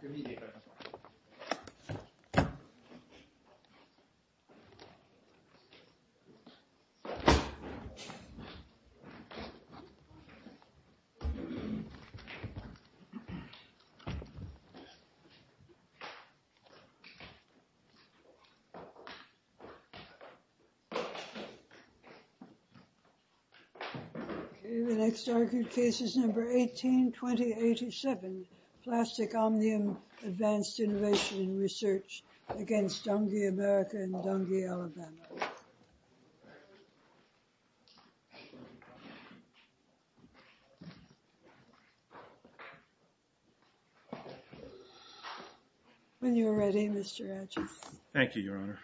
the OK, the next argued case is number 18-20-87, Plastic Omnium Advanced Innovation and Research against Dungey, America and Dungey, Alabama. When you're ready, Mr. Atchis. Thank you, Your Honor. Thank you.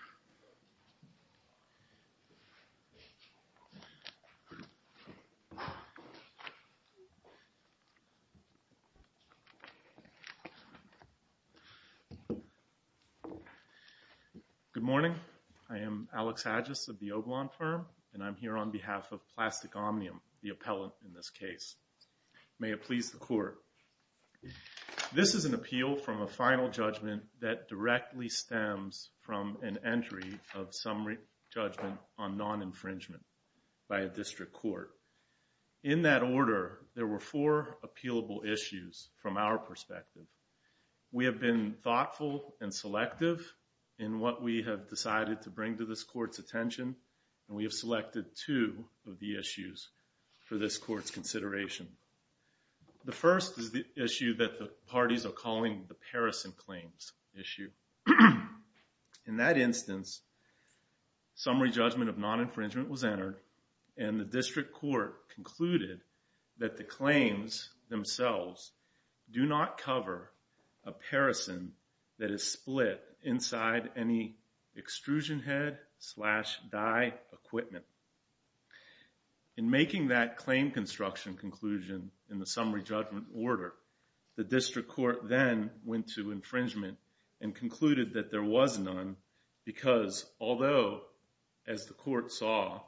Good morning. I am Alex Atchis of the Oblon firm, and I'm here on behalf of Plastic Omnium, the appellant in this case. May it please the court. This is an appeal from a final judgment that directly stems from an entry of summary judgment on non-infringement by a district court. In that order, there were four appealable issues from our perspective. We have been thoughtful and selective in what we have decided to bring to this court's attention, and we have selected two of the issues for this court's consideration. The first is the issue that the parties are calling the parison claims issue. In that instance, summary judgment of non-infringement was entered, and the district court concluded that the claims themselves do not cover a parison that is split inside any extrusion head slash dye equipment. In making that claim construction conclusion in the summary judgment order, the district court then went to infringement and concluded that there was none, because although, as the court saw,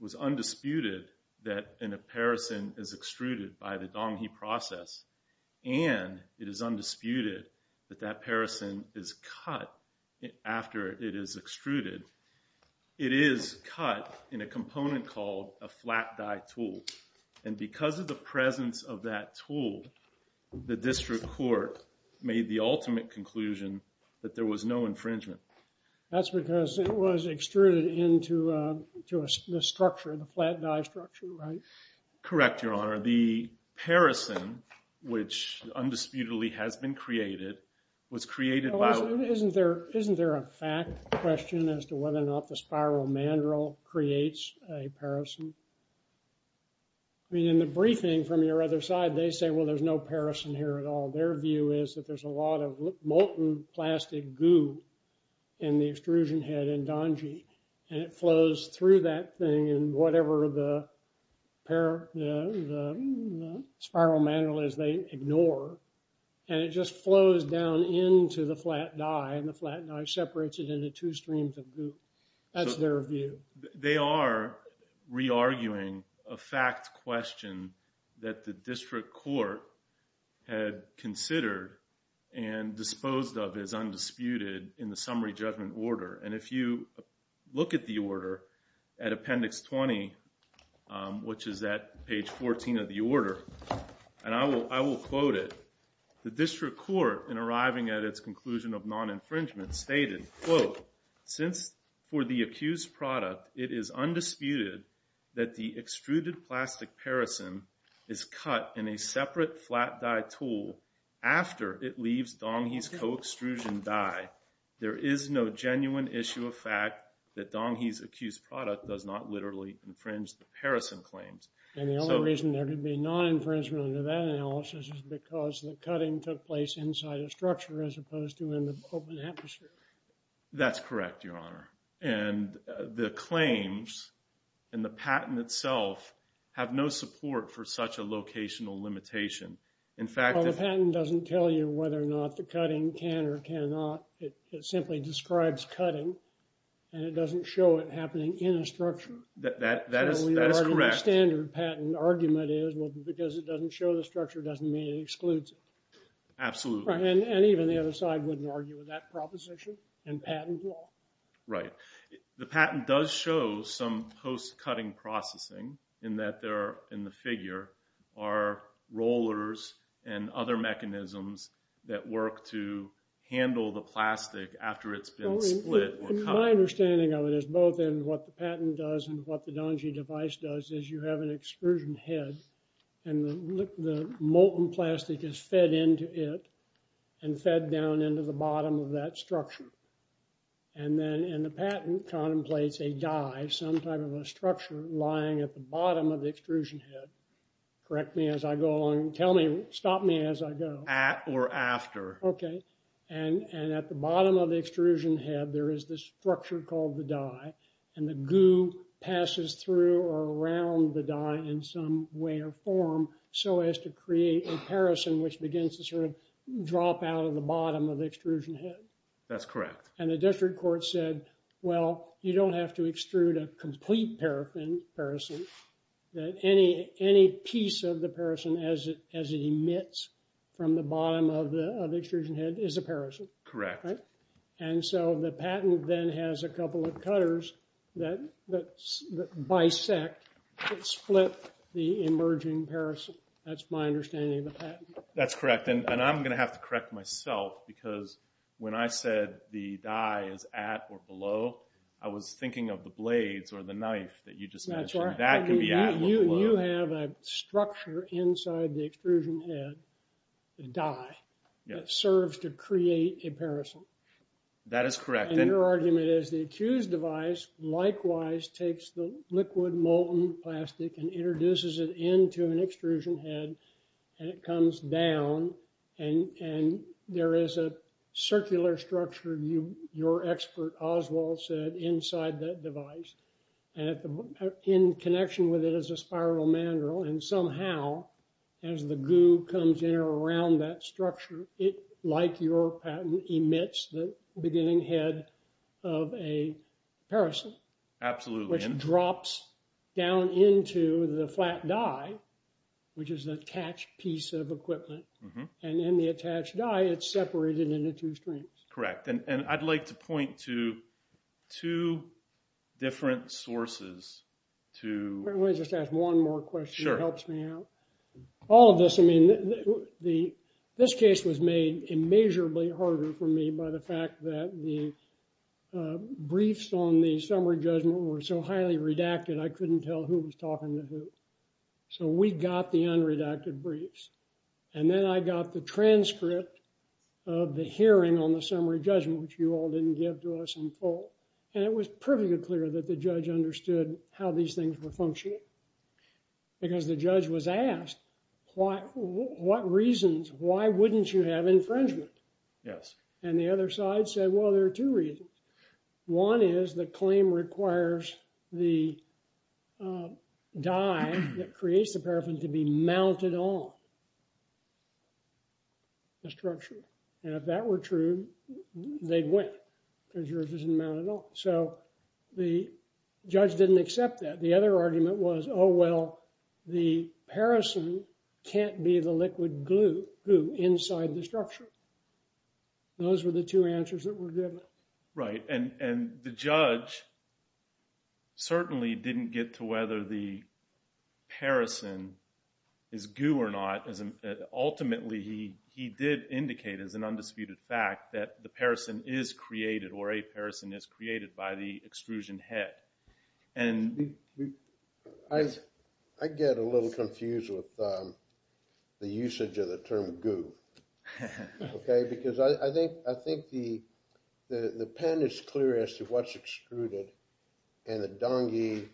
was undisputed that a parison is extruded by the Dong He process, and it is undisputed that that parison is cut after it is extruded, it is cut in a component called a flat dye tool. And because of the presence of that tool, the district court made the ultimate conclusion that there was no infringement. That's because it was extruded into the structure, the flat dye structure, right? Correct, Your Honor. The parison, which undisputedly has been created, was created by the- Isn't there a fact question as to whether or not the spiral mandrel creates a parison? I mean, in the briefing from your other side, they say, well, there's no parison here at all. Their view is that there's a lot of molten plastic goo in the extrusion head in Dong He, and it flows through that thing in whatever the spiral mandrel is they ignore. And it just flows down into the flat dye, and the flat dye separates it into two streams of goo. That's their view. They are re-arguing a fact question that the district court had considered and disposed of as undisputed in the summary judgment order. And if you look at the order at Appendix 20, which is at page 14 of the order, and I will quote it, the district court, in arriving at its conclusion of non-infringement, stated, quote, since for the accused product, it is undisputed that the extruded plastic parison is cut in a separate flat dye tool after it leaves Dong He's co-extrusion dye, there is no genuine issue of fact that Dong He's accused product does not literally infringe the parison claims. And the only reason there could be non-infringement under that analysis is because the cutting took place inside a structure as opposed to in the open atmosphere. That's correct, Your Honor. And the claims and the patent itself have no support for such a locational limitation. In fact- Well, the patent doesn't tell you whether or not the cutting can or cannot. It simply describes cutting, and it doesn't show it happening in a structure. That is correct. The standard patent argument is, well, because it doesn't show the structure doesn't mean it excludes it. Absolutely. And even the other side wouldn't argue with that proposition in patent law. Right. The patent does show some post-cutting processing in that there are in the figure are rollers and other mechanisms that work to handle the plastic after it's been split or cut. My understanding of it is both in what the patent does and what the Dong He device does is you have an excursion head and the molten plastic is fed into it and fed down into the bottom of that structure. And then in the patent contemplates a die, some type of a structure lying at the bottom of the extrusion head. Correct me as I go along. Tell me, stop me as I go. At or after. Okay. And at the bottom of the extrusion head there is this structure called the die and the goo passes through or around the die in some way or form so as to create a parison which begins to sort of drop out of the bottom of the extrusion head. That's correct. And the district court said, well, you don't have to extrude a complete parison that any piece of the parison as it emits from the bottom of the extrusion head is a parison. Correct. And so the patent then has a couple of cutters that bisect, split the emerging parison. That's my understanding of the patent. That's correct. And I'm gonna have to correct myself because when I said the die is at or below, I was thinking of the blades or the knife that you just mentioned. That's right. That can be at or below. You have a structure inside the extrusion head, the die, that serves to create a parison. That is correct. And your argument is the accused device likewise takes the liquid molten plastic and introduces it into an extrusion head and it comes down and there is a circular structure your expert Oswald said inside that device and in connection with it as a spiral mandrel and somehow as the goo comes in or around that structure, it like your patent emits the beginning head of a parison. Absolutely. Which drops down into the flat die, which is attached piece of equipment. And then the attached die, it's separated into two streams. Correct. And I'd like to point to two different sources to... Let me just ask one more question. Sure. It helps me out. All of this, I mean, this case was made immeasurably harder for me by the fact that the briefs on the summary judgment were so highly redacted, I couldn't tell who was talking to who. So we got the unredacted briefs. And then I got the transcript of the hearing on the summary judgment, which you all didn't give to us in full. And it was perfectly clear that the judge understood how these things were functioning. Because the judge was asked, why, what reasons, why wouldn't you have infringement? Yes. And the other side said, well, there are two reasons. One is the claim requires the die that creates the paraffin to be mounted on the structure. And if that were true, they'd win, because yours isn't mounted on. So the judge didn't accept that. The other argument was, oh, well, the paraffin can't be the liquid glue inside the structure. Those were the two answers that were given. Right. And the judge certainly didn't get to whether the paraffin is goo or not. Ultimately, he did indicate as an undisputed fact that the paraffin is created, or a paraffin is created by the extrusion head. And I get a little confused with the usage of the term goo, okay? Because I think the pen is clear as to what's extruded. And the dongy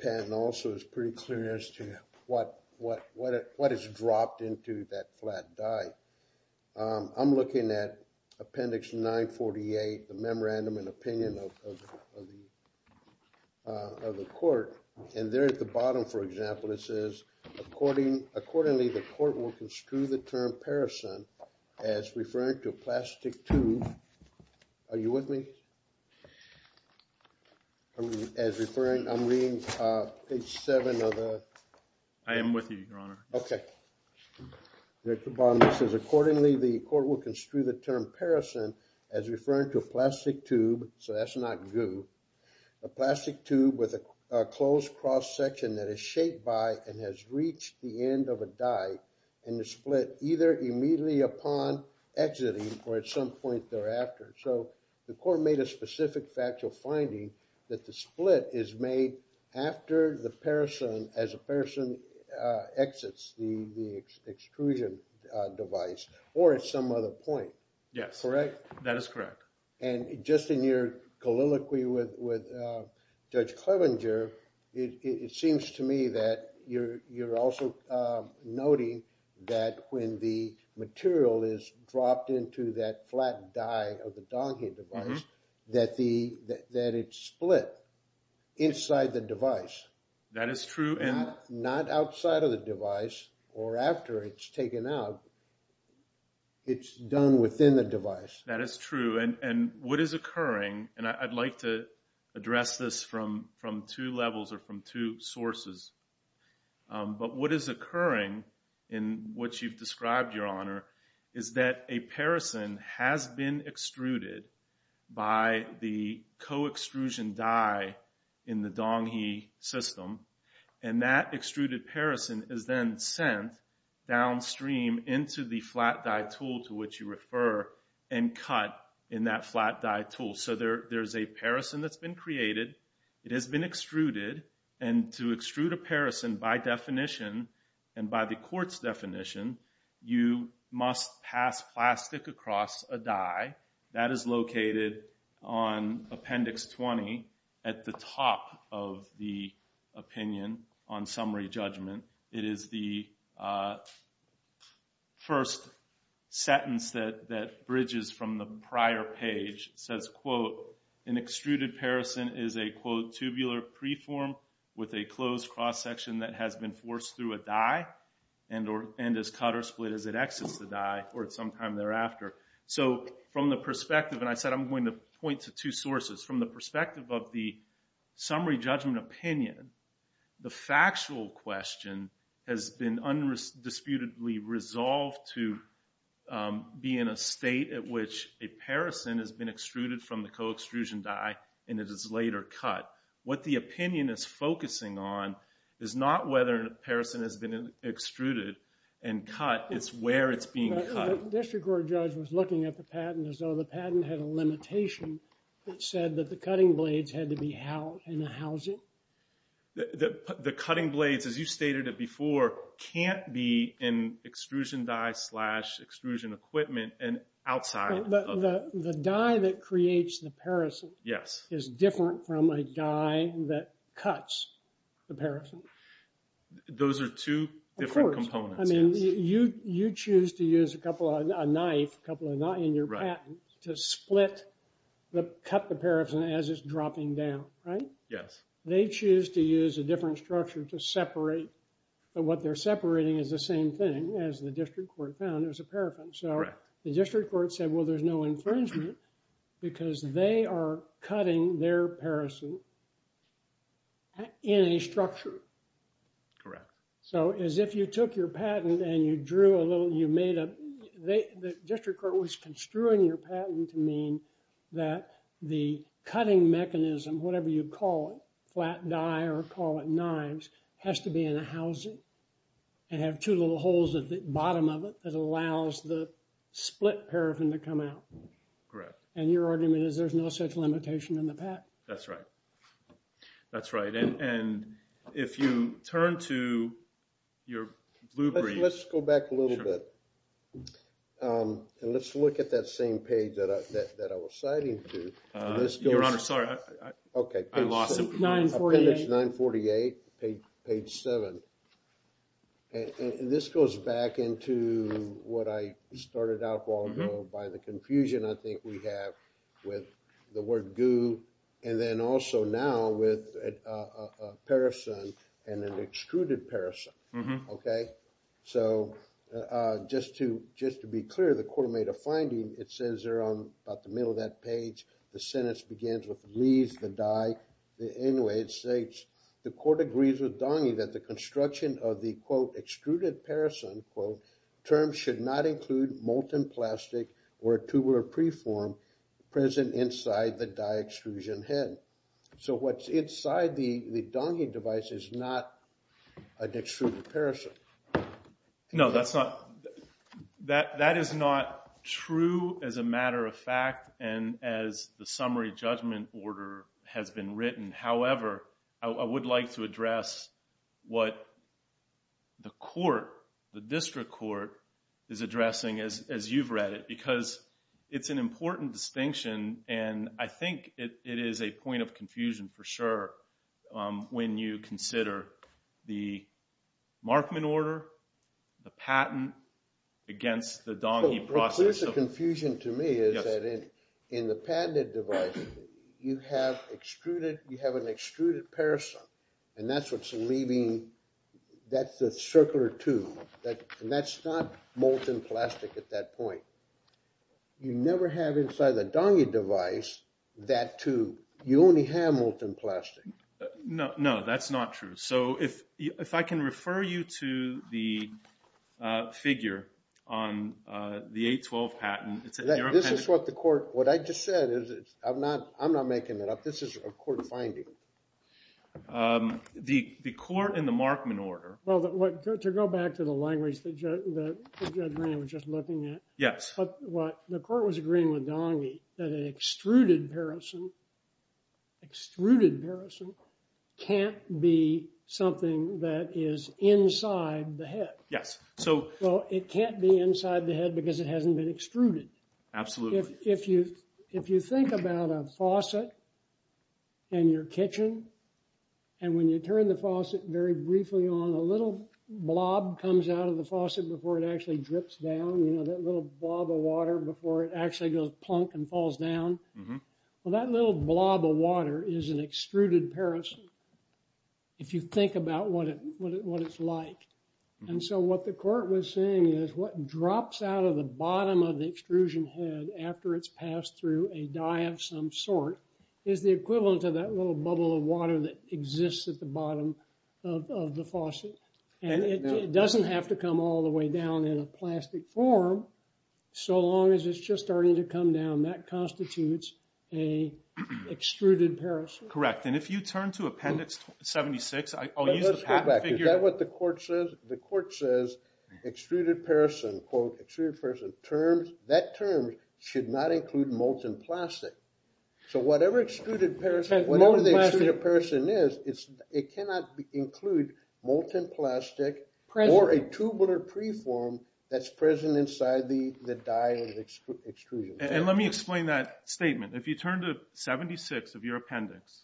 pen also is pretty clear as to what is dropped into that flat die. I'm looking at Appendix 948, the Memorandum and Opinion of the Court. And there at the bottom, for example, it says, accordingly, the court will construe the term paraffin as referring to a plastic tube. Are you with me? As referring, I'm reading page seven of the... I am with you, Your Honor. Okay. There at the bottom, it says, accordingly, the court will construe the term paraffin as referring to a plastic tube, so that's not goo, a plastic tube with a closed cross-section that is shaped by and has reached the end of a die and is split either immediately upon exiting or at some point thereafter. So the court made a specific fact, a factual finding that the split is made after the person, as a person exits the extrusion device or at some other point. Yes. Correct? That is correct. And just in your colloquy with Judge Clevenger, it seems to me that you're also noting that when the material is dropped into that flat die of the dongy device, that it's split inside the device. That is true. Not outside of the device or after it's taken out, it's done within the device. That is true. And what is occurring, and I'd like to address this from two levels or from two sources, but what is occurring in what you've described, Your Honor, is that a person has been extruded by the co-extrusion die in the dongy system, and that extruded person is then sent downstream into the flat die tool to which you refer and cut in that flat die tool. So there's a person that's been created, it has been extruded, and to extrude a person by definition and by the court's definition, you must pass plastic across a die. That is located on Appendix 20 at the top of the opinion on summary judgment. It is the first sentence that bridges from the prior page. It says, quote, an extruded person is a, quote, tubular preform with a closed cross section that has been forced through a die and is cut or split as it exits the die or at some time thereafter. So from the perspective, and I said I'm going to point to two sources, from the perspective of the summary judgment opinion, the factual question has been undisputedly resolved to be in a state at which a person has been extruded from the co-extrusion die and it is later cut. What the opinion is focusing on is not whether a person has been extruded and cut, it's where it's being cut. The district court judge was looking at the patent as though the patent had a limitation that said that the cutting blades had to be in a housing. The cutting blades, as you stated it before, can't be in extrusion die slash extrusion equipment and outside of it. The die that creates the person is different from a die that cuts the person. Those are two different components. I mean, you choose to use a couple of a knife, a couple of a knife in your patent to split, cut the person as it's dropping down, right? Yes. They choose to use a different structure to separate, but what they're separating is the same thing as the district court found as a paraffin. So the district court said, well, there's no infringement because they are cutting their person in a structure. Correct. So as if you took your patent and you drew a little, you made a, the district court was construing your patent to mean that the cutting mechanism, whatever you call it, flat die or call it knives, has to be in a housing and have two little holes at the bottom of it that allows the split paraffin to come out. Correct. And your argument is there's no such limitation in the patent? That's right. That's right. And if you turn to your blue brief. Let's go back a little bit. And let's look at that same page that I was citing to. Your Honor, sorry. Okay. I lost it. 948. 948, page seven. And this goes back into what I started out by the confusion I think we have with the word goo. And then also now with a paraffin and an extruded paraffin. Okay. So just to be clear, the court made a finding. It says there on about the middle of that page, the sentence begins with leaves the die. The anyway, it states, the court agrees with Donnie that the construction of the quote extruded paraffin quote, term should not include molten plastic or tubular preform present inside the die extrusion head. So what's inside the Donnie device is not an extruded paraffin. No, that's not. That is not true as a matter of fact and as the summary judgment order has been written. However, I would like to address what the court, the district court is addressing as you've read it because it's an important distinction and I think it is a point of confusion for sure when you consider the Markman order, the patent against the Donnie process. The confusion to me is that in the patented device, you have extruded, you have an extruded paraffin and that's what's leaving, that's the circular tube and that's not molten plastic at that point. You never have inside the Donnie device that tube. You only have molten plastic. No, no, that's not true. So if I can refer you to the figure on the 812 patent. This is what the court, what I just said is, I'm not making it up. This is a court finding. The court in the Markman order. Well, to go back to the language that Judge Green was just looking at. Yes. But what the court was agreeing with Donnie that an extruded paraffin, extruded paraffin can't be something that is inside the head. Yes, so. Well, it can't be inside the head because it hasn't been extruded. Absolutely. If you think about a faucet in your kitchen, and when you turn the faucet very briefly on, a little blob comes out of the faucet before it actually drips down. You know, that little blob of water before it actually goes plunk and falls down. Well, that little blob of water is an extruded paraffin. If you think about what it's like. And so what the court was saying is, what drops out of the bottom of the extrusion head is the equivalent of that little bubble of water that exists at the bottom of the faucet. And it doesn't have to come all the way down in a plastic form. So long as it's just starting to come down, that constitutes a extruded paraffin. Correct, and if you turn to Appendix 76, I'll use the pattern figure. But let's go back. Is that what the court says? The court says extruded paraffin, quote, extruded paraffin, that term should not include molten plastic. So whatever extruded paraffin, whatever the extruded paraffin is, it cannot include molten plastic or a tubular preform that's present inside the die of the extrusion. And let me explain that statement. If you turn to 76 of your appendix,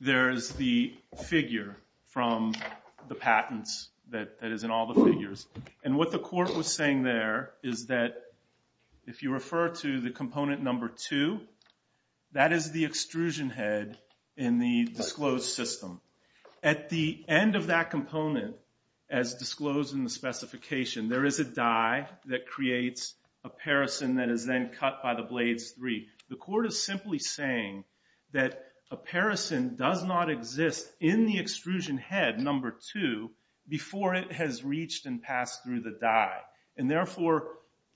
there's the figure from the patents that is in all the figures. And what the court was saying there is that if you refer to the component number two, that is the extrusion head in the disclosed system. At the end of that component, as disclosed in the specification, there is a die that creates a paraffin that is then cut by the blades three. The court is simply saying that a paraffin does not exist in the extrusion head number two before it has reached and passed through the die. And therefore,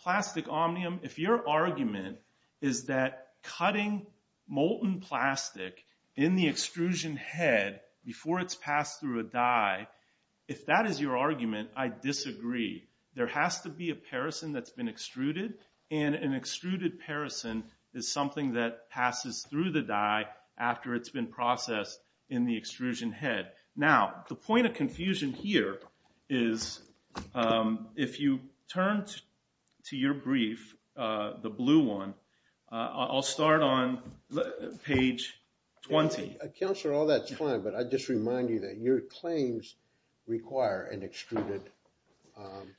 Plastic Omnium, if your argument is that cutting molten plastic in the extrusion head before it's passed through a die, if that is your argument, I disagree. There has to be a paraffin that's been extruded, and an extruded paraffin is something that passes through the die after it's been processed in the extrusion head. Now, the point of confusion here is if you turn to your brief, the blue one, I'll start on page 20. Councillor, all that's fine, but I just remind you that your claims require an extruded paraffin.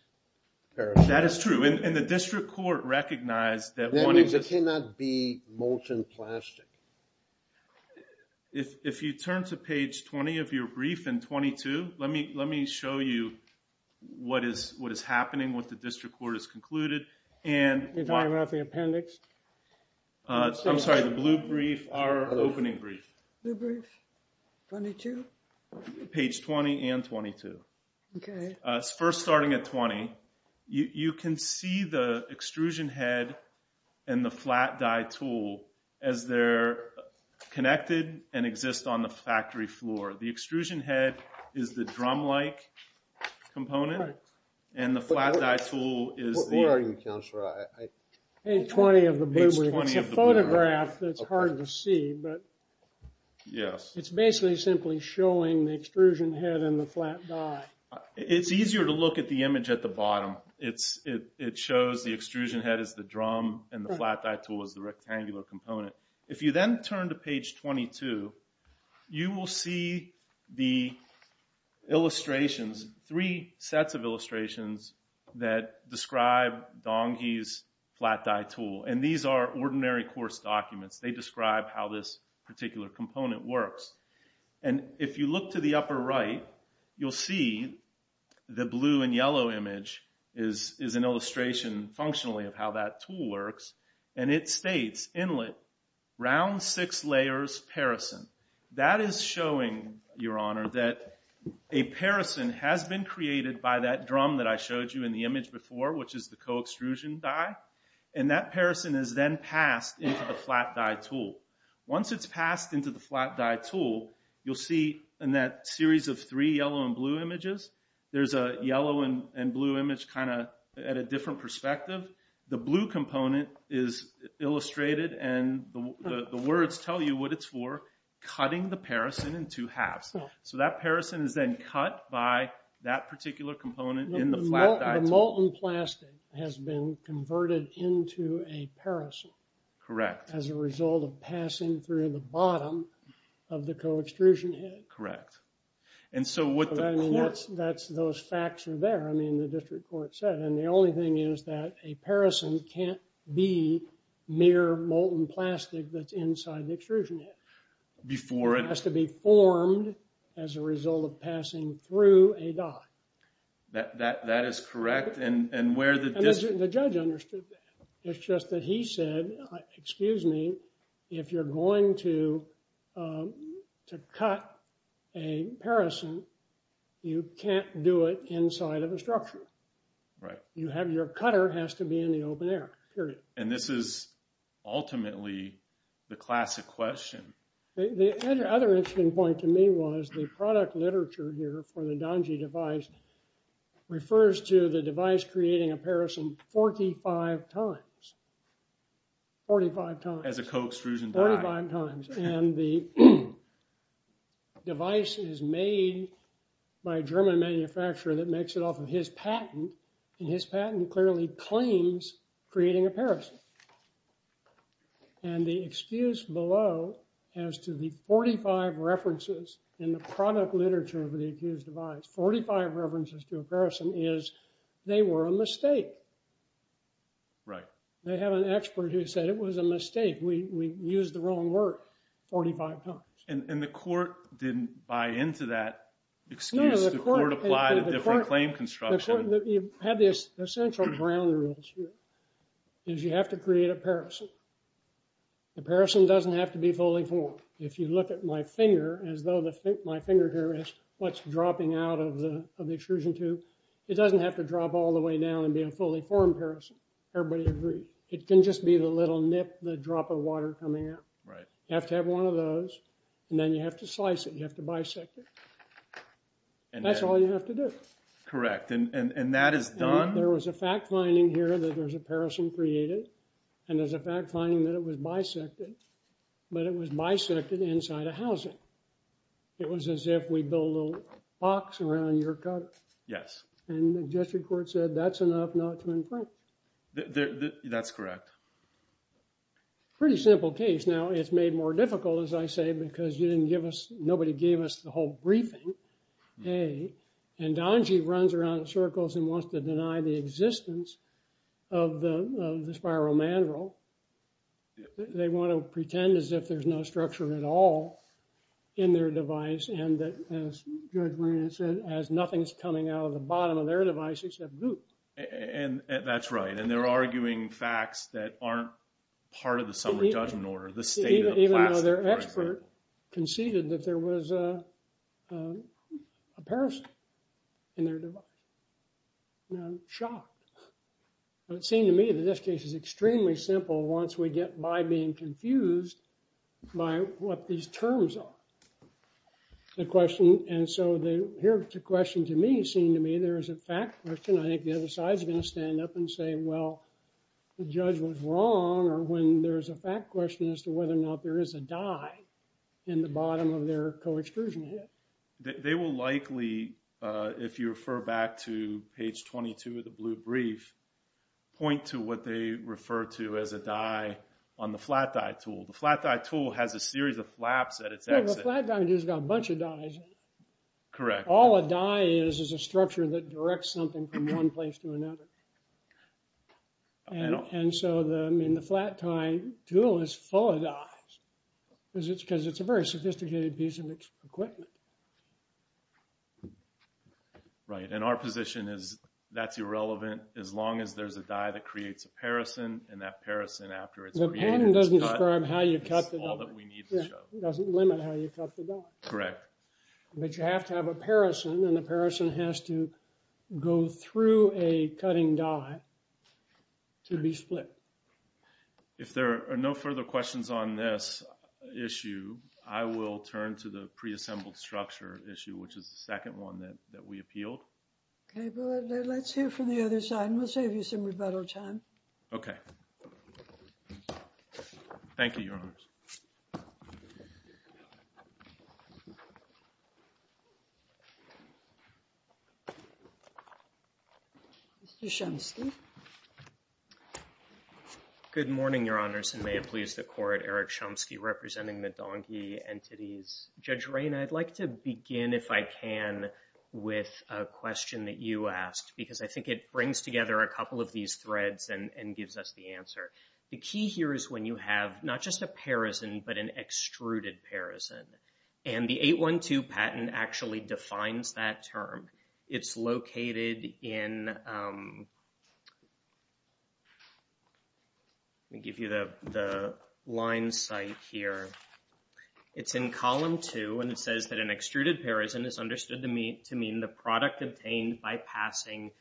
That is true, and the district court recognized that one is- That means it cannot be molten plastic. If you turn to page 20 of your brief in 22, let me show you what is happening, what the district court has concluded, and- The diagram of the appendix? I'm sorry, the blue brief, our opening brief. Blue brief, 22? Page 20 and 22. Okay. First, starting at 20, you can see the extrusion head and the flat die tool as they're connected and exist on the factory floor. The extrusion head is the drum-like component, and the flat die tool is the- I'm sorry, Councillor, I- Page 20 of the blue brief. It's a photograph that's hard to see, but it's basically simply showing the extrusion head and the flat die. It's easier to look at the image at the bottom. It shows the extrusion head is the drum, and the flat die tool is the rectangular component. If you then turn to page 22, you will see the illustrations, three sets of illustrations that describe Donghi's flat die tool. And these are ordinary course documents. They describe how this particular component works. And if you look to the upper right, you'll see the blue and yellow image is an illustration, functionally, of how that tool works. And it states, inlet, round six layers parison. That is showing, Your Honour, that a parison has been created by that drum that I showed you in the image before, which is the co-extrusion die. And that parison is then passed into the flat die tool. Once it's passed into the flat die tool, you'll see in that series of three yellow and blue images, there's a yellow and blue image kind of at a different perspective. The blue component is illustrated, and the words tell you what it's for, cutting the parison in two halves. So that parison is then cut by that particular component in the flat die tool. The molten plastic has been converted into a parison. Correct. As a result of passing through the bottom of the co-extrusion head. Correct. And so what the court. Those facts are there, I mean, the district court said. And the only thing is that a parison can't be mere molten plastic that's inside the extrusion head. Before it. It has to be formed as a result of passing through a die. That is correct. And where the district. The judge understood that. It's just that he said, excuse me, if you're going to cut a parison, you can't do it inside of a structure. Right. You have your cutter has to be in the open air, period. And this is ultimately the classic question. The other interesting point to me was the product literature here for the Danji device refers to the device creating a parison 45 times. 45 times. As a co-extrusion die. 45 times, and the device is made by a German manufacturer that makes it off of his patent. And his patent clearly claims creating a parison. And the excuse below as to the 45 references in the product literature of the accused device, 45 references to a person is they were a mistake. Right. They have an expert who said it was a mistake. We used the wrong word 45 times. And the court didn't buy into that excuse. The court applied a different claim construction. You have this essential ground rules here. Is you have to create a parison. The parison doesn't have to be fully formed. If you look at my finger, as though my finger here is what's dropping out of the extrusion tube, it doesn't have to drop all the way down and be a fully formed parison. Everybody agree. It can just be the little nip, the drop of water coming out. Right. You have to have one of those. And then you have to slice it, you have to bisect it. And that's all you have to do. Correct. And that is done. There was a fact finding here that there's a parison created and there's a fact finding that it was bisected. But it was bisected inside a housing. It was as if we build a little box around your gut. Yes. And the district court said that's enough not to in front. That's correct. Pretty simple case. Now it's made more difficult, as I say, because you didn't give us, nobody gave us the whole briefing, A. And Angie runs around in circles and wants to deny the existence of the spiral mandrel. They want to pretend as if there's no structure at all in their device. And as Judge Marina said, as nothing's coming out of the bottom of their device except goop. And that's right. And they're arguing facts that aren't part of the summary judgment order, the state of the plastic. Even though their expert conceded that there was a parison in their device. And I'm shocked. But it seemed to me that this case is extremely simple once we get by being confused by what these terms are. The question, and so the, here's the question to me, seemed to me there is a fact question. I think the other side's gonna stand up and say, well, the judge was wrong. Or when there's a fact question as to whether or not there is a dye in the bottom of their co-extrusion head. They will likely, if you refer back to page 22 of the blue brief, point to what they refer to as a dye on the flat dye tool. The flat dye tool has a series of flaps at its exit. The flat dye tool's got a bunch of dyes in it. Correct. All a dye is is a structure that directs something from one place to another. And so the, I mean, the flat dye tool is full of dyes. Is it because it's a very sophisticated piece of equipment? Right, and our position is that's irrelevant as long as there's a dye that creates a paracin, and that paracin after it's created is cut. The pattern doesn't describe how you cut the dye. It's all that we need to show. It doesn't limit how you cut the dye. Correct. But you have to have a paracin, and the paracin has to go through a cutting dye to be split. If there are no further questions on this issue, I will turn to the pre-assembled structure issue, which is the second one that we appealed. Okay, well, let's hear from the other side, and we'll save you some rebuttal time. Okay. Thank you, Your Honors. Mr. Shumsky. Good morning, Your Honors, and may it please the Court, Eric Shumsky representing the Donkey Entities. Judge Rayna, I'd like to begin, if I can, with a question that you asked, because I think it brings together a couple of these threads and gives us the answer. The key here is when you have not just a paracin, but an extruded paracin, and the 812 patent actually defines that term. It's located in let me give you the line site here. It's in column two, and it says that an extruded paracin is understood to mean the product obtained by passing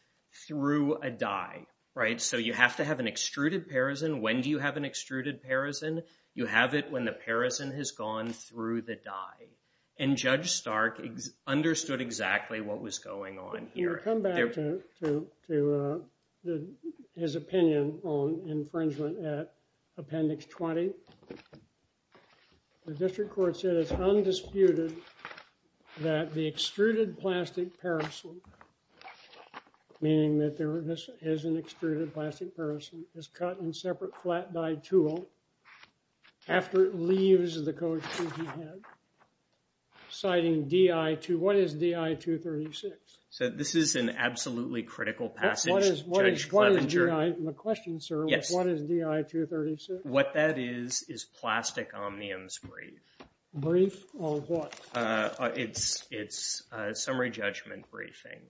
through a dye, right? So you have to have an extruded paracin. When do you have an extruded paracin? You have it when the paracin has gone through the dye. And Judge Stark understood exactly what was going on here. I come back to his opinion on infringement at Appendix 20. The district court said it's undisputed that the extruded plastic paracin, meaning that there is an extruded plastic paracin, is cut in separate flat dye tool after it leaves the coat he had, citing DI2, what is DI236? So this is an absolutely critical passage, Judge Clevenger. What is DI, my question, sir, is what is DI236? What that is is plastic omniums brief. Brief on what? It's summary judgment briefing.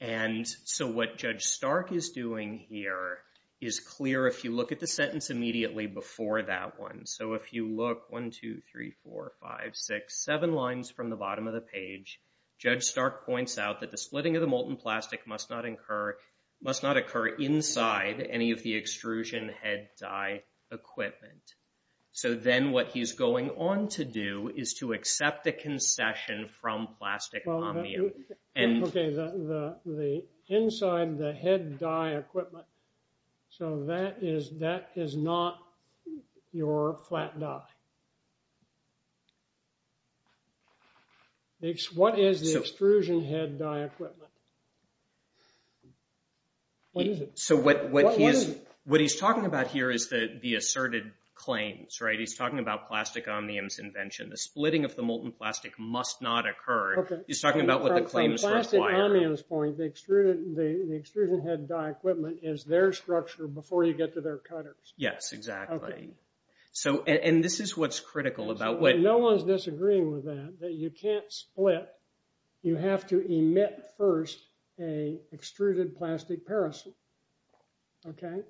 And so what Judge Stark is doing here is clear if you look at the sentence immediately before that one. So if you look, one, two, three, four, five, six, seven lines from the bottom of the page, Judge Stark points out that the splitting of the molten plastic must not incur, must not occur inside any of the extrusion head dye equipment. So then what he's going on to do is to accept the concession from plastic omnium. And- Okay, the inside the head dye equipment. So that is not your flat dye. What is the extrusion head dye equipment? What is it? So what he's talking about here is the asserted claims, right, he's talking about plastic omniums invention. The splitting of the molten plastic must not occur. He's talking about what the claims require. From the plastic omniums point, the extrusion head dye equipment is their structure Yes, exactly. And this is what Judge Stark is doing. This is what's critical about what- No one's disagreeing with that, that you can't split. You have to emit first a extruded plastic paracetamide. Okay?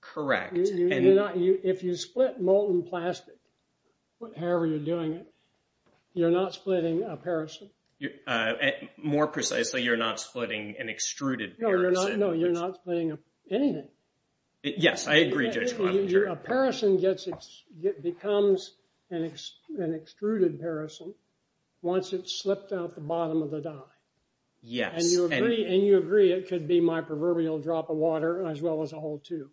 Correct. If you split molten plastic, however you're doing it, you're not splitting a paracetamide. More precisely, you're not splitting an extruded paracetamide. No, you're not splitting anything. Yes, I agree, Judge Glavinger. A paracetamide becomes an extruded paracetamide once it's slipped out the bottom of the dye. Yes. And you agree it could be my proverbial drop of water as well as a whole tube.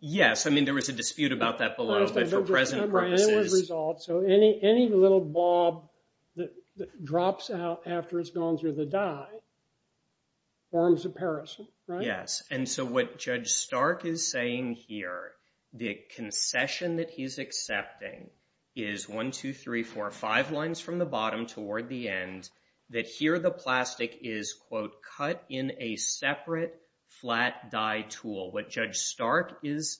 Yes, I mean, there was a dispute about that below, but for present purposes- I don't disagree. So any little blob that drops out after it's gone through the dye forms a paracetamide, right? Yes, and so what Judge Stark is saying here, the concession that he's accepting is one, two, three, four, five lines from the bottom toward the end, that here the plastic is, quote, cut in a separate flat dye tool. What Judge Stark is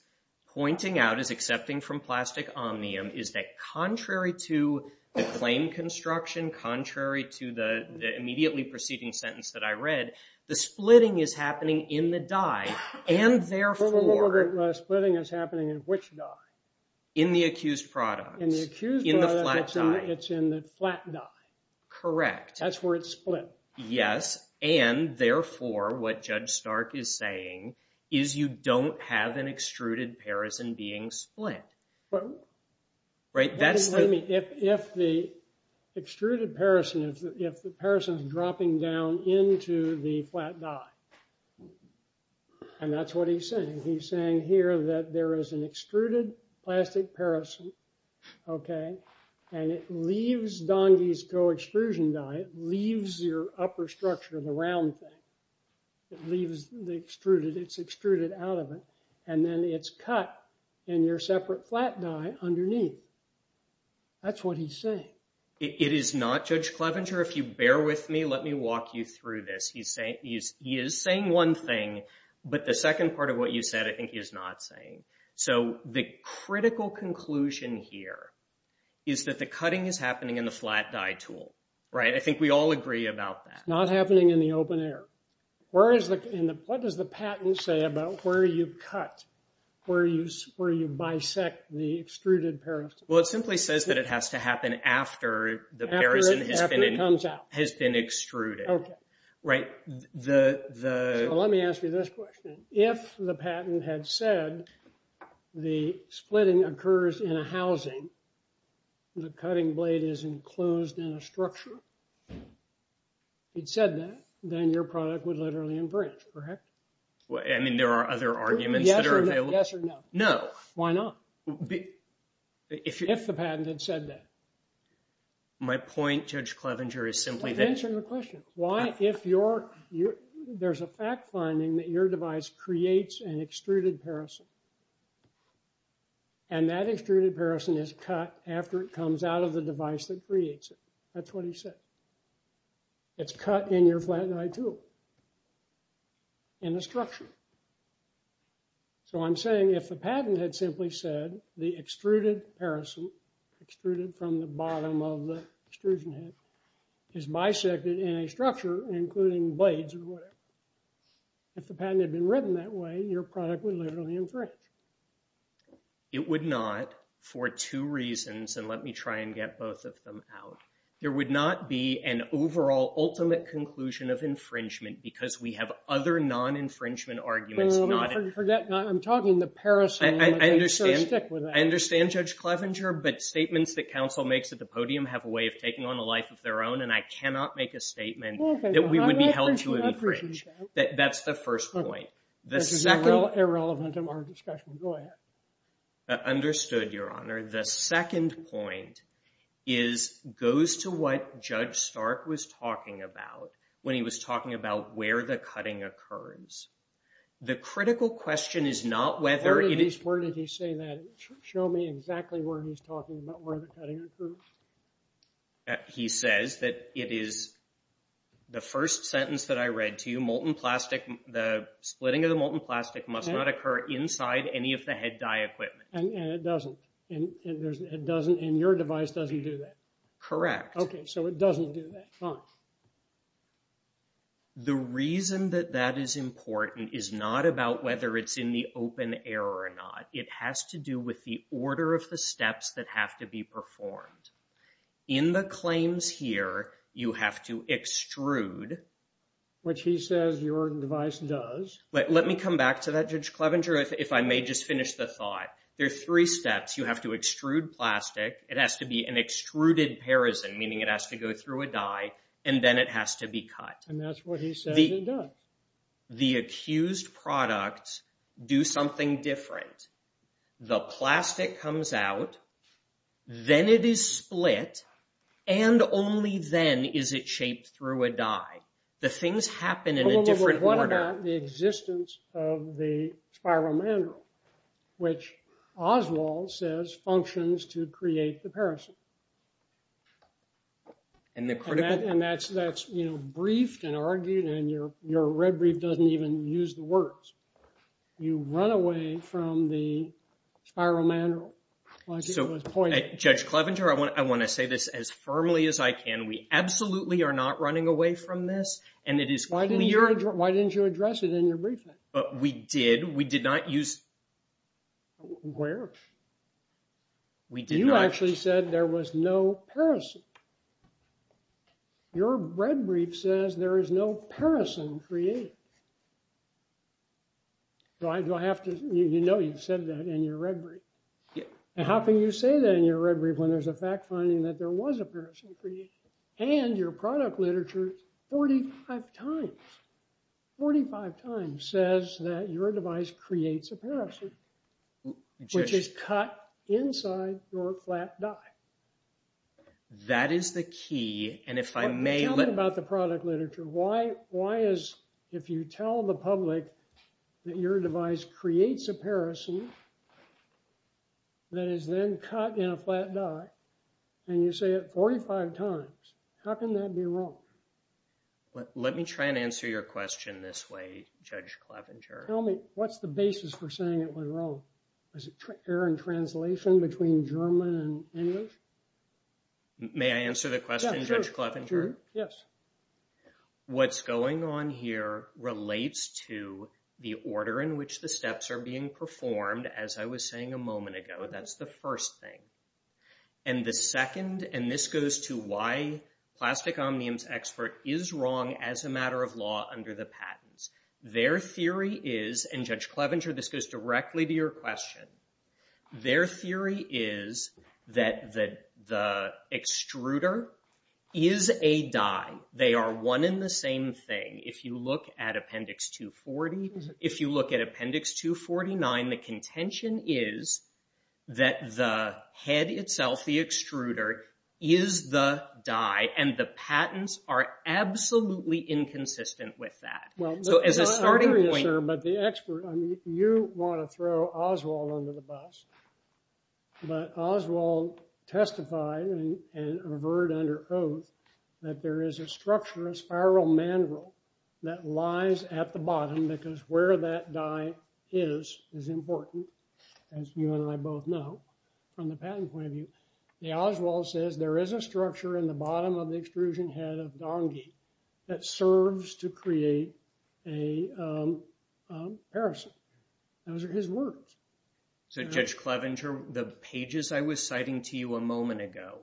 pointing out is accepting from Plastic Omnium is that contrary to the claim construction, contrary to the immediately preceding sentence that I read, the splitting is happening in the dye and therefore- Well, what about the splitting that's happening in which dye? In the accused products. In the accused products? In the flat dye. It's in the flat dye. Correct. That's where it's split. Yes, and therefore what Judge Stark is saying is you don't have an extruded paracetamide being split. Right, that's the- Wait a minute, if the extruded paracetamide, if the paracetamide is dropping down into the flat dye, and that's what he's saying. He's saying here that there is an extruded plastic paracetamide, okay, and it leaves Dongey's co-extrusion dye, it leaves your upper structure, the round thing. It leaves the extruded, it's extruded out of it, and then it's cut in your separate flat dye underneath. That's what he's saying. It is not, Judge Clevenger, if you bear with me, let me walk you through this. He is saying one thing, but the second part of what you said, I think he is not saying. So the critical conclusion here is that the cutting is happening in the flat dye tool. Right, I think we all agree about that. It's not happening in the open air. What does the patent say about where you cut, where you bisect the extruded paracetamide? Well, it simply says that it has to happen after the paracetamide has been extruded. Okay. So let me ask you this question. If the patent had said the splitting occurs in a housing, the cutting blade is enclosed in a structure, it said that, then your product would literally infringe, correct? I mean, there are other arguments that are available. Yes or no? No. Why not? If the patent had said that. My point, Judge Clevenger, is simply that- I'm answering the question. Why, if there's a fact finding that your device creates an extruded paracetamide, and that extruded paracetamide is cut after it comes out of the device that creates it. That's what he said. It's cut in your flat dye tool, in the structure. So I'm saying if the patent had simply said the extruded paracetamide, extruded from the bottom of the extrusion head, is bisected in a structure, including blades or whatever. If the patent had been written that way, your product would literally infringe. It would not for two reasons, and let me try and get both of them out. There would not be an overall ultimate conclusion of infringement because we have other non-infringement arguments, not- I'm talking the paracetamide, so stick with that. I understand, Judge Clevenger, but statements that counsel makes at the podium have a way of taking on a life of their own, and I cannot make a statement that we would be held to an infringe. That's the first point. The second- This is irrelevant to our discussion. Go ahead. Understood, Your Honor. The second point goes to what Judge Stark was talking about when he was talking about where the cutting occurs. The critical question is not whether it is- Where did he say that? Show me exactly where he's talking about where the cutting occurs. He says that it is, the first sentence that I read to you, molten plastic, the splitting of the molten plastic must not occur inside any of the head dye equipment. And it doesn't, and your device doesn't do that? Correct. Okay, so it doesn't do that, fine. The reason that that is important is not about whether it's in the open air or not. It has to do with the order of the steps that have to be performed. In the claims here, you have to extrude- Which he says your device does. Let me come back to that, Judge Clevenger, if I may just finish the thought. There are three steps. You have to extrude plastic. It has to be an extruded parison, meaning it has to go through a dye, and then it has to be cut. And that's what he says it does. The accused products do something different. The plastic comes out, then it is split, and only then is it shaped through a dye. The things happen in a different order. Well, what about the existence of the spiromandrel, which Oswald says functions to create the parison? And the critical- And that's briefed and argued, and your red brief doesn't even use the words. You run away from the spiromandrel, like it was pointed. Judge Clevenger, I want to say this as firmly as I can. We absolutely are not running away from this, and it is clear- Why didn't you address it in your briefing? But we did. We did not use- Where? We did not- You said there was no parison. Your red brief says there is no parison created. Do I have to- You know you said that in your red brief. And how can you say that in your red brief when there's a fact finding that there was a parison created? And your product literature 45 times, 45 times says that your device creates a parison, which is cut inside your flat die. That is the key, and if I may- Tell me about the product literature. Why is, if you tell the public that your device creates a parison that is then cut in a flat die, and you say it 45 times, how can that be wrong? Let me try and answer your question this way, Judge Clevenger. Tell me, what's the basis for saying it was wrong? Was it error in translation between German and English? May I answer the question, Judge Clevenger? Yes. What's going on here relates to the order in which the steps are being performed. As I was saying a moment ago, that's the first thing. And the second, and this goes to why Plastic Omniums Expert is wrong as a matter of law under the patents. Their theory is, and Judge Clevenger, this goes directly to your question, their theory is that the extruder is a die. They are one in the same thing. If you look at Appendix 240, if you look at Appendix 249, the contention is that the head itself, the extruder, is the die, and the patents are absolutely inconsistent with that. So as a starting point. Sure, but the expert, I mean, you want to throw Oswald under the bus, but Oswald testified and averred under oath that there is a structure, a spiral mandrel that lies at the bottom because where that die is is important, as you and I both know from the patent point of view. The Oswald says there is a structure in the bottom of the extrusion head of Dongi that serves to create a parison. Those are his words. So Judge Clevenger, the pages I was citing to you a moment ago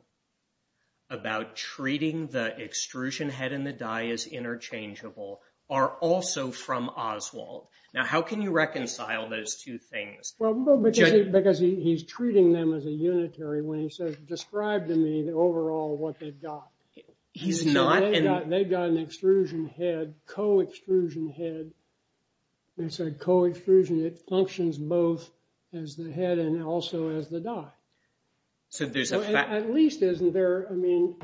about treating the extrusion head and the die as interchangeable are also from Oswald. Now, how can you reconcile those two things? Well, because he's treating them as a unitary when he says, describe to me the overall what they've got. He's not. They've got an extrusion head, co-extrusion head. It's a co-extrusion. It functions both as the head and also as the die. So there's a fact. At least isn't there, I mean,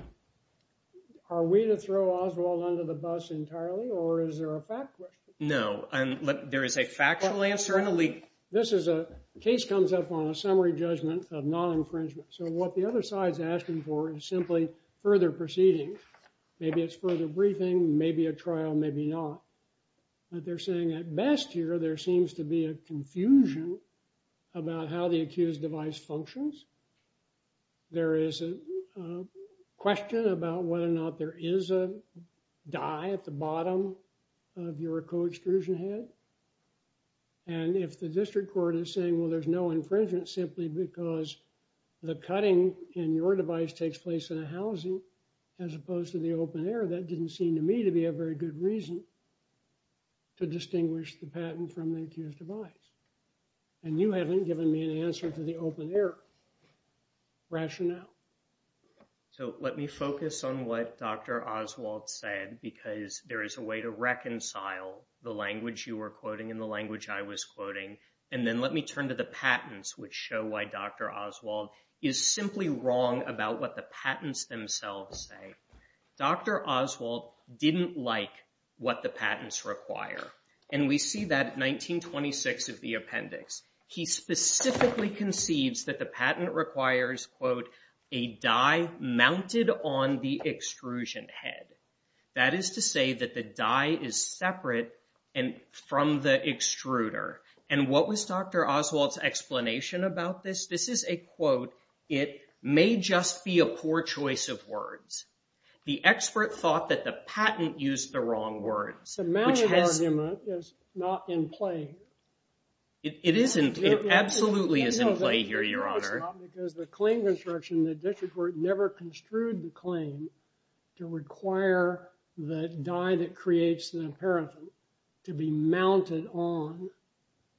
are we to throw Oswald under the bus entirely or is there a fact question? No, there is a factual answer and a leak. This is a case comes up on a summary judgment of non-infringement. So what the other side's asking for is simply further proceeding. Maybe it's further briefing, maybe a trial, maybe not. But they're saying at best here, there seems to be a confusion about how the accused device functions. There is a question about whether or not there is a die at the bottom of your co-extrusion head. And if the district court is saying, well, there's no infringement simply because the cutting in your device takes place in a housing as opposed to the open air, that didn't seem to me to be a very good reason to distinguish the patent from the accused device. And you haven't given me an answer to the open air rationale. So let me focus on what Dr. Oswald said because there is a way to reconcile the language you were quoting and the language I was quoting and then let me turn to the patents which show why Dr. Oswald is simply wrong about what the patents themselves say. Dr. Oswald didn't like what the patents require. And we see that 1926 of the appendix. He specifically conceives that the patent requires, quote, a die mounted on the extrusion head. That is to say that the die is separate from the extruder. And what was Dr. Oswald's explanation about this? This is a quote. It may just be a poor choice of words. The expert thought that the patent used the wrong words. The mounted argument is not in play. It isn't. It absolutely is in play here, Your Honor. Because the claim construction, the district court never construed the claim to require the die that creates the imperative to be mounted on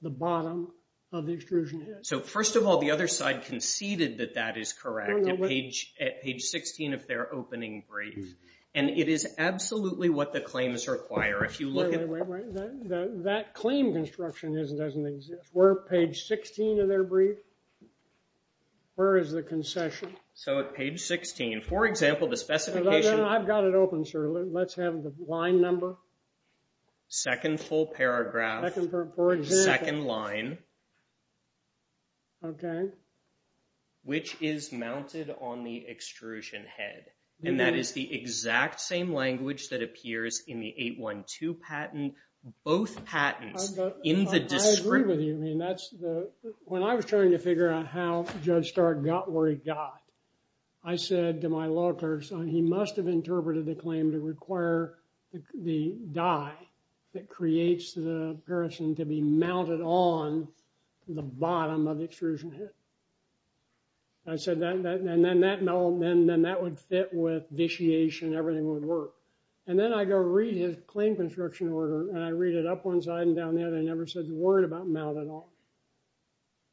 the bottom of the extrusion head. So first of all, the other side conceded that that is correct at page 16 of their opening brief. And it is absolutely what the claims require. If you look at- Wait, wait, wait. That claim construction doesn't exist. We're at page 16 of their brief? Where is the concession? So at page 16, for example, the specification- I've got it open, sir. Let's have the line number. Second full paragraph, second line, which is mounted on the extrusion head. And that is the exact same language that appears in the 812 patent. Both patents in the district- I agree with you. I mean, that's the... When I was trying to figure out how Judge Stark got where he got, I said to my law clerks, he must have interpreted the claim to require the die that creates the person to be mounted on the bottom of the extrusion head. I said that, and then that would fit with vitiation. Everything would work. And then I go read his claim construction order and I read it up one side and down the other. It never says a word about mount at all.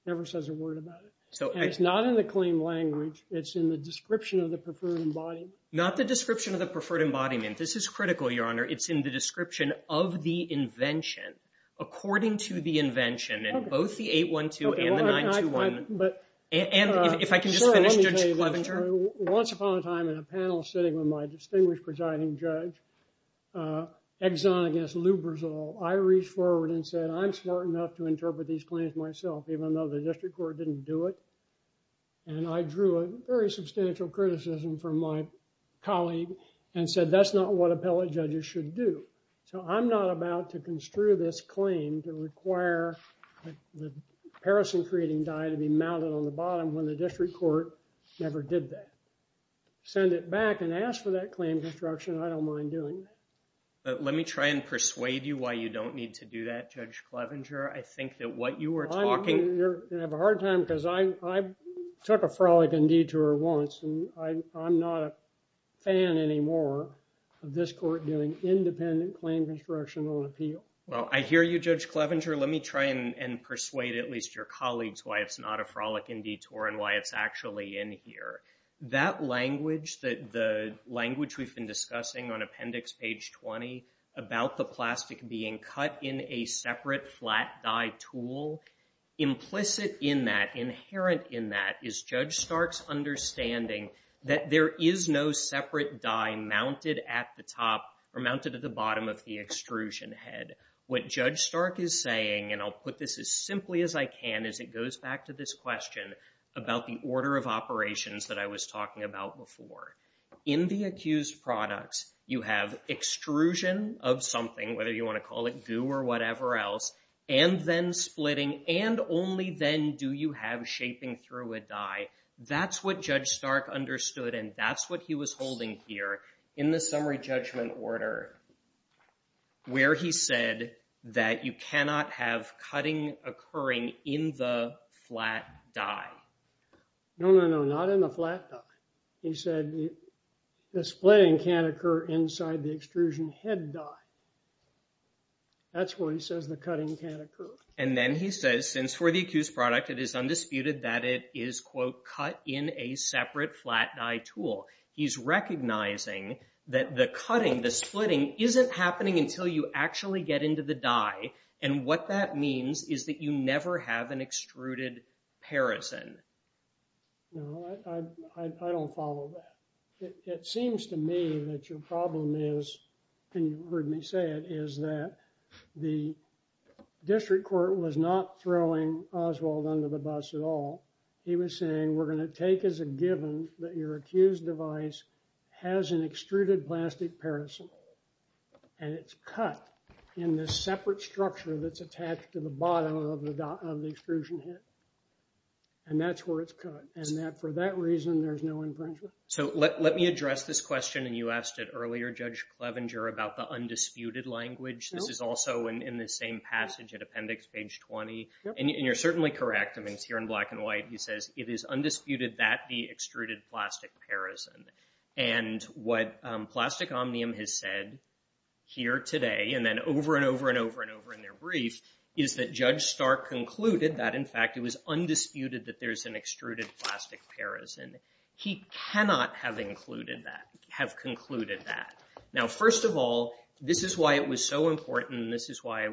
Never says a word about it. And it's not in the claim language. It's in the description of the preferred embodiment. Not the description of the preferred embodiment. This is critical, Your Honor. It's in the description of the invention, according to the invention, in both the 812 and the 921. And if I can just finish, Judge Clevenger. Once upon a time in a panel sitting with my distinguished presiding judge, Exon against Lou Brizol, I reached forward and said, I'm smart enough to interpret these claims myself, even though the district court didn't do it. And I drew a very substantial criticism from my colleague and said, that's not what appellate judges should do. So I'm not about to construe this claim to require the paracetamol-creating dye to be mounted on the bottom when the district court never did that. Send it back and ask for that claim construction. I don't mind doing that. But let me try and persuade you why you don't need to do that, Judge Clevenger. I think that what you were talking. You're gonna have a hard time because I took a frolic and detour once and I'm not a fan anymore of this court doing independent claim construction on appeal. Well, I hear you, Judge Clevenger. Let me try and persuade at least your colleagues why it's not a frolic and detour and why it's actually in here. That language, the language we've been discussing on appendix page 20 about the plastic being cut in a separate flat dye tool, implicit in that, inherent in that is Judge Stark's understanding that there is no separate dye mounted at the top or mounted at the bottom of the extrusion head. What Judge Stark is saying, and I'll put this as simply as I can as it goes back to this question about the order of operations that I was talking about before. In the accused products, you have extrusion of something, whether you wanna call it goo or whatever else, and then splitting, and only then do you have shaping through a dye. That's what Judge Stark understood and that's what he was holding here in the summary judgment order where he said that you cannot have cutting occurring in the flat dye. No, no, no, not in the flat dye. He said the splitting can't occur inside the extrusion head dye. That's where he says the cutting can't occur. And then he says, since for the accused product, it is undisputed that it is, quote, cut in a separate flat dye tool. He's recognizing that the cutting, the splitting isn't happening until you actually get into the dye. And what that means is that you never have an extruded parison. No, I don't follow that. It seems to me that your problem is, and you've heard me say it, is that the district court was not throwing Oswald under the bus at all. He was saying, we're gonna take as a given that your accused device has an extruded plastic parison and it's cut in this separate structure that's attached to the bottom of the extrusion head. And that's where it's cut. And that for that reason, there's no infringement. So let me address this question and you asked it earlier, Judge Clevenger, about the undisputed language. This is also in the same passage at appendix page 20. And you're certainly correct. I mean, it's here in black and white. He says, it is undisputed that the extruded plastic parison. And what Plastic Omnium has said here today and then over and over and over and over in their brief is that Judge Stark concluded that, in fact, it was undisputed that there's an extruded plastic parison. He cannot have included that, have concluded that. Now, first of all, this is why it was so important. This is why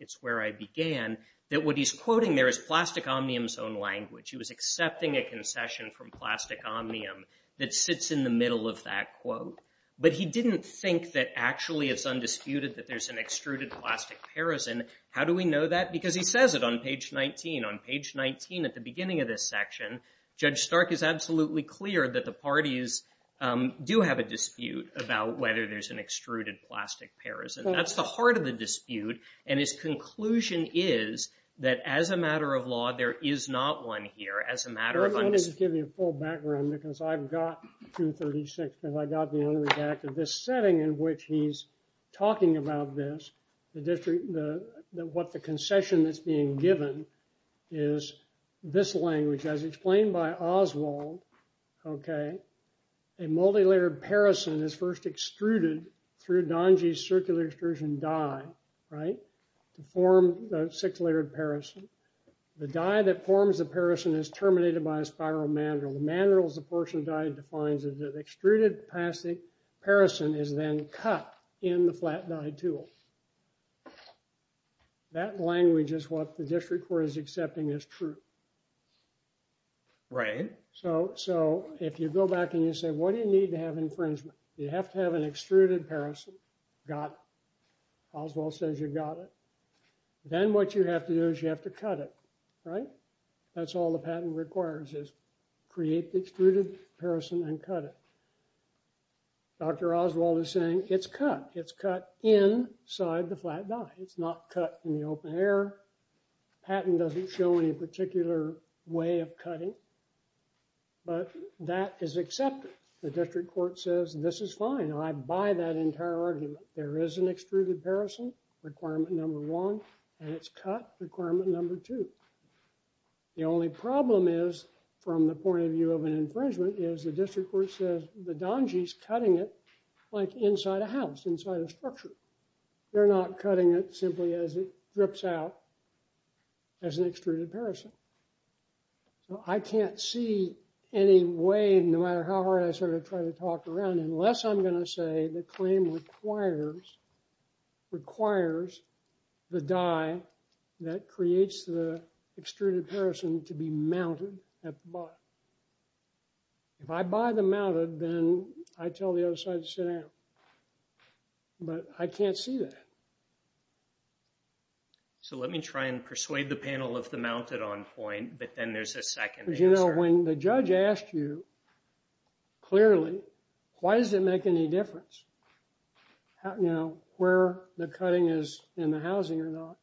it's where I began that what he's quoting there is Plastic Omnium's own language. He was accepting a concession from Plastic Omnium that sits in the middle of that quote. But he didn't think that actually it's undisputed that there's an extruded plastic parison. How do we know that? Because he says it on page 19. On page 19 at the beginning of this section, Judge Stark is absolutely clear that the parties do have a dispute about whether there's an extruded plastic parison. That's the heart of the dispute. And his conclusion is that, as a matter of law, there is not one here. As a matter of undisputed- I wanted to give you a full background because I've got 236 because I got the unredacted. This setting in which he's talking about this, what the concession that's being given is this language, as explained by Oswald, okay? A multilayered parison is first extruded through Donji's Circular Extrusion Die, right? To form the six-layered parison. The die that forms the parison is terminated by a spiral mandrel. The mandrel is the portion of die that defines it. The extruded plastic parison is then cut in the flat-die tool. That language is what the District Court is accepting as true. Right. So if you go back and you say, what do you need to have infringement? You have to have an extruded parison, got it. Oswald says you got it. Then what you have to do is you have to cut it, right? That's all the patent requires, is create the extruded parison and cut it. Dr. Oswald is saying it's cut. It's cut inside the flat-die. It's not cut in the open air. Patent doesn't show any particular way of cutting, but that is accepted. The District Court says this is fine. I buy that entire argument. There is an extruded parison, requirement number one, and it's cut, requirement number two. The only problem is, from the point of view of an infringement, is the District Court says the Donji's cutting it like inside a house, inside a structure. They're not cutting it simply as it drips out as an extruded parison. So I can't see any way, no matter how hard I sort of try to talk around, unless I'm going to say the claim requires, requires the die that creates the extruded parison to be mounted at the bottom. If I buy the mounted, then I tell the other side to sit down. But I can't see that. So let me try and persuade the panel of the mounted on point, but then there's a second answer. But you know, when the judge asked you clearly, why does it make any difference where the cutting is in the housing or not?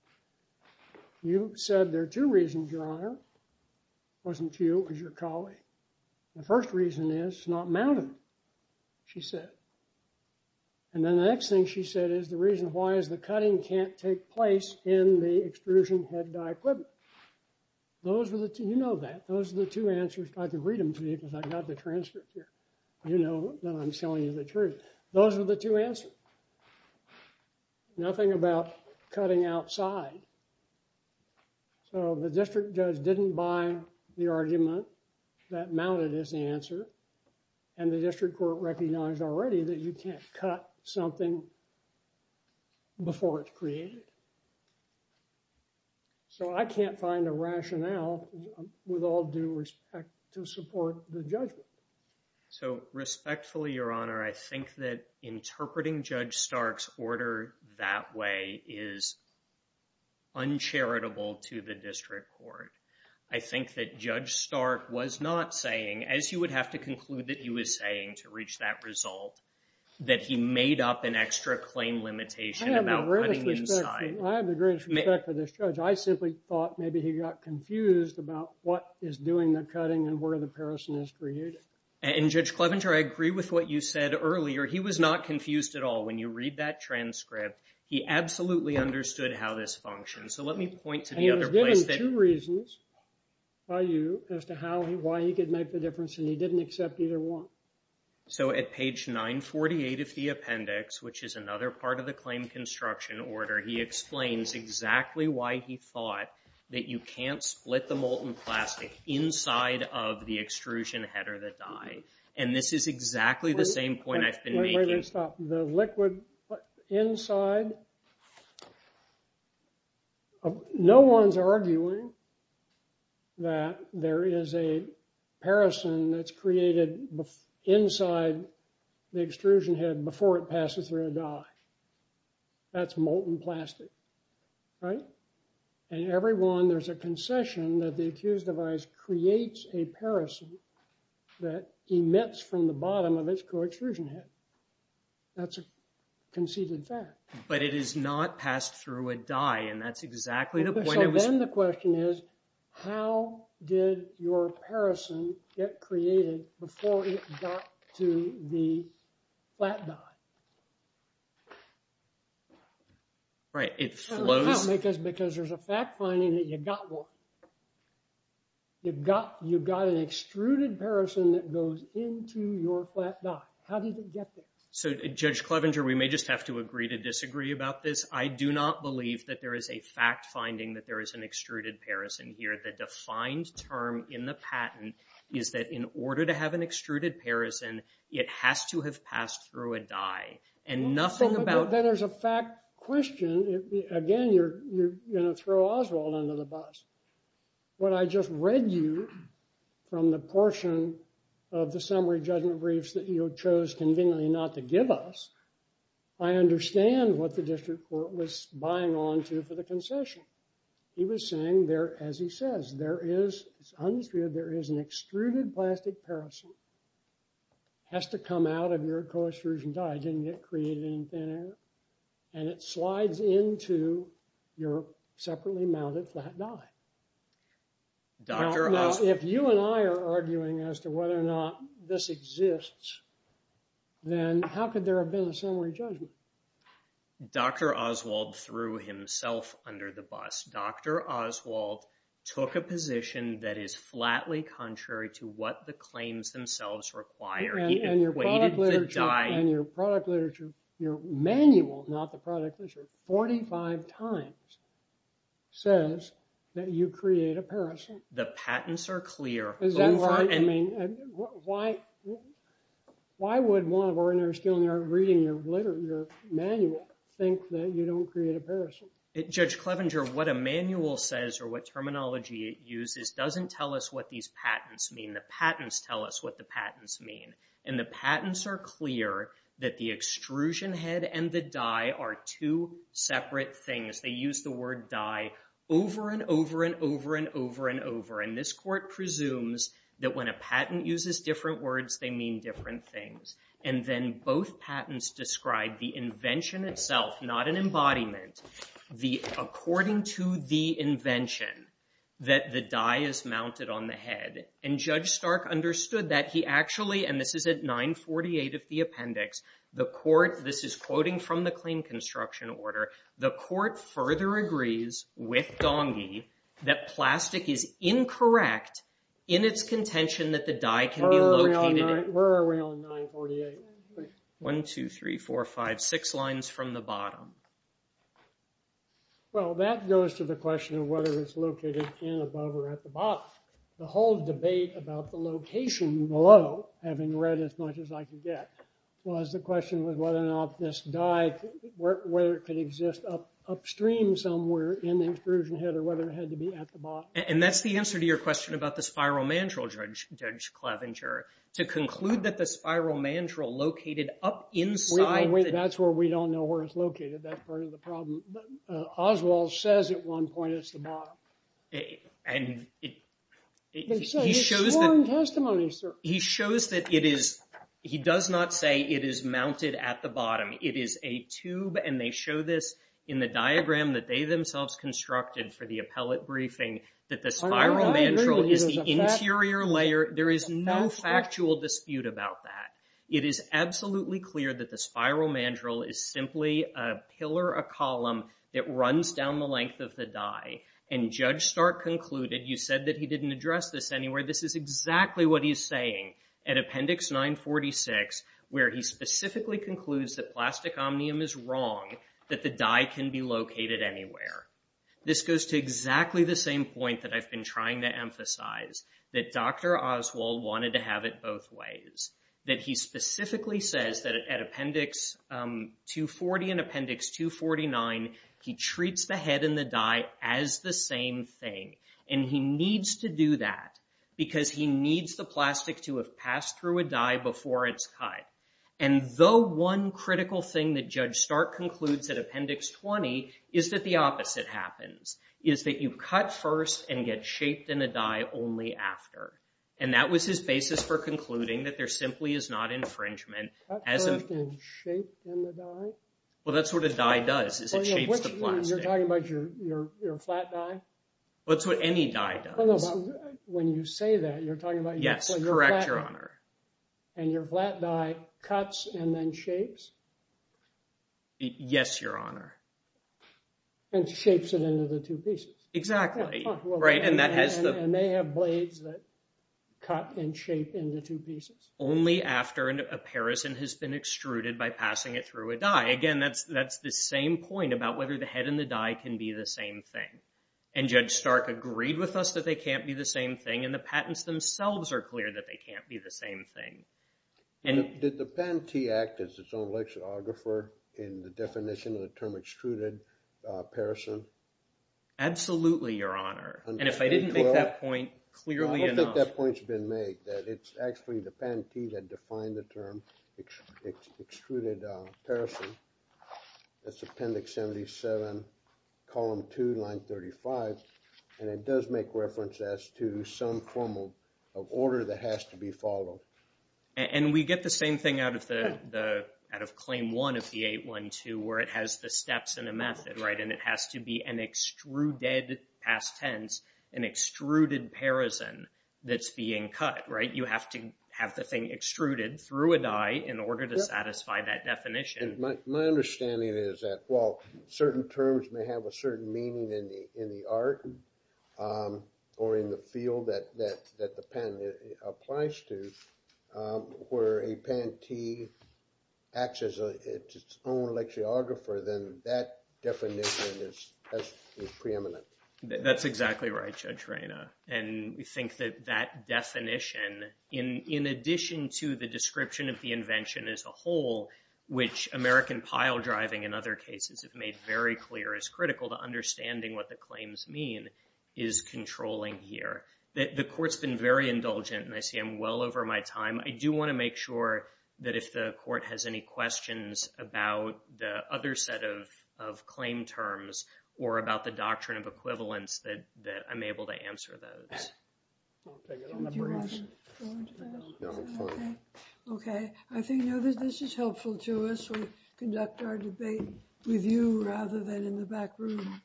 You said there are two reasons, Your Honor. It wasn't you, it was your colleague. The first reason is it's not mounted, she said. And then the next thing she said is the reason why is the cutting can't take place in the extrusion head die equipment. Those were the two, you know that. Those are the two answers. I can read them to you because I've got the transcript here. You know that I'm telling you the truth. Those are the two answers. Nothing about cutting outside. So the district judge didn't buy the argument that mounted is the answer. And the district court recognized already that you can't cut something before it's created. So I can't find a rationale with all due respect to support the judgment. So respectfully, Your Honor, I think that interpreting Judge Stark's order that way is uncharitable to the district court. I think that Judge Stark was not saying, as you would have to conclude that he was saying to reach that result, that he made up an extra claim limitation about cutting inside. I have the greatest respect for this judge. I simply thought maybe he got confused about what is doing the cutting and where the paracin is created. And Judge Clevenger, I agree with what you said earlier. He was not confused at all. When you read that transcript, he absolutely understood how this functions. So let me point to the other place that- And he was given two reasons by you as to how and why he could make the difference and he didn't accept either one. So at page 948 of the appendix, which is another part of the claim construction order, he explains exactly why he thought that you can't split the molten plastic inside of the extrusion header that died. And this is exactly the same point I've been making- Wait, wait, wait, stop. The liquid inside, no one's arguing that there is a paracin that's created inside the extrusion head before it passes through a die. That's molten plastic, right? And everyone, there's a concession that the accused device creates a paracin that emits from the bottom of its co-extrusion head. That's a conceded fact. But it is not passed through a die and that's exactly the point it was- So then the question is, how did your paracin get created before it got to the flat die? Right, it flows- How? Because there's a fact finding that you got one. You've got an extruded paracin that goes into your flat die. How did it get there? So Judge Clevenger, we may just have to agree to disagree about this. I do not believe that there is a fact finding that there is an extruded paracin here where the defined term in the patent is that in order to have an extruded paracin, it has to have passed through a die. And nothing about- Well, then there's a fact question. Again, you're gonna throw Oswald under the bus. What I just read you from the portion of the summary judgment briefs that you chose conveniently not to give us, I understand what the district court was buying onto for the concession. He was saying there, as he says, there is, it's undisputed, there is an extruded plastic paracin has to come out of your co-extrusion die. It didn't get created in thin air. And it slides into your separately mounted flat die. Dr. Oswald- Now, if you and I are arguing as to whether or not this exists, then how could there have been a summary judgment? Dr. Oswald threw himself under the bus. Dr. Oswald took a position that is flatly contrary to what the claims themselves require. He equated the die- And your product literature, your manual, not the product literature, 45 times says that you create a paracin. The patents are clear over- Is that why, I mean, why would one of our interns when they're reading your manual think that you don't create a paracin? Judge Clevenger, what a manual says or what terminology it uses doesn't tell us what these patents mean. The patents tell us what the patents mean. And the patents are clear that the extrusion head and the die are two separate things. They use the word die over and over and over and over and over. And this court presumes that when a patent uses different words, they mean different things. And then both patents describe the invention itself, not an embodiment, the according to the invention that the die is mounted on the head. And Judge Stark understood that he actually, and this is at 948 of the appendix, the court, this is quoting from the claim construction order, the court further agrees with Donghi that plastic is incorrect in its contention that the die can be located- Where are we on 948? One, two, three, four, five, six lines from the bottom. Well, that goes to the question of whether it's located in, above, or at the bottom. The whole debate about the location below, having read as much as I could get, was the question of whether or not this die, whether it could exist upstream somewhere in the extrusion head or whether it had to be at the bottom. And that's the answer to your question about the spiral mandrel, Judge Clevenger. To conclude that the spiral mandrel located up inside- Wait, wait, wait, that's where we don't know where it's located, that part of the problem. Oswald says at one point it's the bottom. And he shows that- He's sworn testimony, sir. He shows that it is, he does not say it is mounted at the bottom. It is a tube, and they show this in the diagram that they themselves constructed for the appellate briefing that the spiral mandrel is the interior layer. There is no factual dispute about that. It is absolutely clear that the spiral mandrel is simply a pillar, a column, that runs down the length of the die. And Judge Stark concluded, you said that he didn't address this anywhere, this is exactly what he's saying at Appendix 946, where he specifically concludes that plastic omnium is wrong, that the die can be located anywhere. This goes to exactly the same point that I've been trying to emphasize, that Dr. Oswald wanted to have it both ways, that he specifically says that at Appendix 240 and Appendix 249, he treats the head and the die as the same thing. And he needs to do that because he needs the plastic to have passed through a die before it's cut. And though one critical thing that Judge Stark concludes at Appendix 20 is that the opposite happens, is that you cut first and get shaped in a die only after. And that was his basis for concluding that there simply is not infringement as of... Cut first and shape in the die? Well, that's what a die does, is it shapes the plastic. You're talking about your flat die? That's what any die does. When you say that, you're talking about... Yes, correct, Your Honor. And your flat die cuts and then shapes? Yes, Your Honor. And shapes it into the two pieces. Exactly, right, and that has the... And they have blades that cut and shape into two pieces. Only after an apparison has been extruded by passing it through a die. Again, that's the same point about whether the head and the die can be the same thing. And Judge Stark agreed with us that they can't be the same thing, and the patents themselves are clear that they can't be the same thing. And did the patentee act as its own lexicographer in the definition of the term extruded apparison? Absolutely, Your Honor. And if I didn't make that point clearly enough... I don't think that point's been made, that it's actually the patentee that defined the term extruded apparison. That's Appendix 77, Column 2, Line 35. And it does make reference as to some formal order that has to be followed. And we get the same thing out of Claim 1 of the 812, where it has the steps in a method, right? And it has to be an extruded past tense, an extruded parison that's being cut, right? You have to have the thing extruded through a die in order to satisfy that definition. My understanding is that, well, certain terms may have a certain meaning in the art or in the field that the patent applies to, where a patentee acts as its own lexicographer, then that definition is preeminent. That's exactly right, Judge Reyna. And we think that that definition, in addition to the description of the invention as a whole, which American pile driving in other cases have made very clear is critical to understanding what the claims mean, is controlling here. The Court's been very indulgent, and I see I'm well over my time. I do want to make sure that if the Court has any questions about the other set of claim terms or about the doctrine of equivalence, that I'm able to answer those. I'll take it on the briefs. Do you want to go into that? No, I'm fine. Okay, I think now that this is helpful to us, we conduct our debate with you rather than in the back room.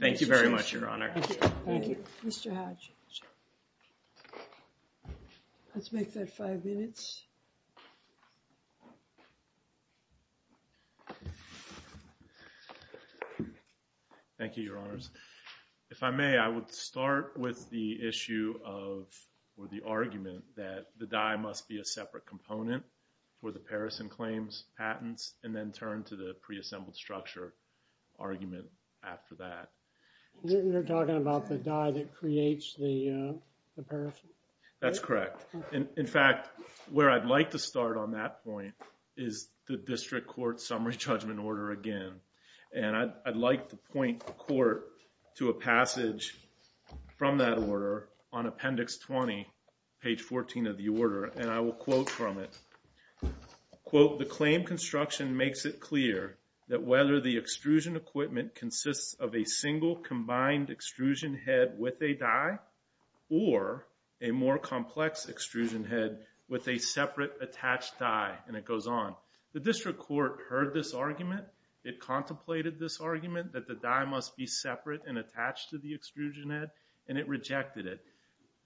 Thank you very much, Your Honor. Thank you. Mr. Hatch. Let's make that five minutes. Thank you, Your Honors. If I may, I would start with the issue of, or the argument that the die must be a separate component for the Parison claims patents and then turn to the preassembled structure argument after that. You're talking about the die that creates the Parison? That's correct. In fact, where I'd like to start on that point is the District Court Summary Judgment Order again. And I'd like to point the Court to a passage from that order on Appendix 20, page 14 of the order, and I will quote from it. Quote, the claim construction makes it clear that whether the extrusion equipment consists of a single combined extrusion head with a die or a more complex extrusion head with a separate attached die, and it goes on. The District Court heard this argument, it contemplated this argument that the die must be separate and attached to the extrusion head, and it rejected it.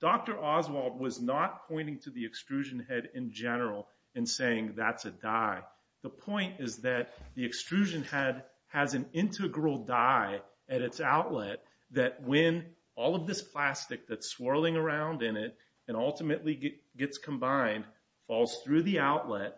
Dr. Oswald was not pointing to the extrusion head in general in saying that's a die. The point is that the extrusion head has an integral die at its outlet that when all of this plastic that's swirling around in it and ultimately gets combined, falls through the outlet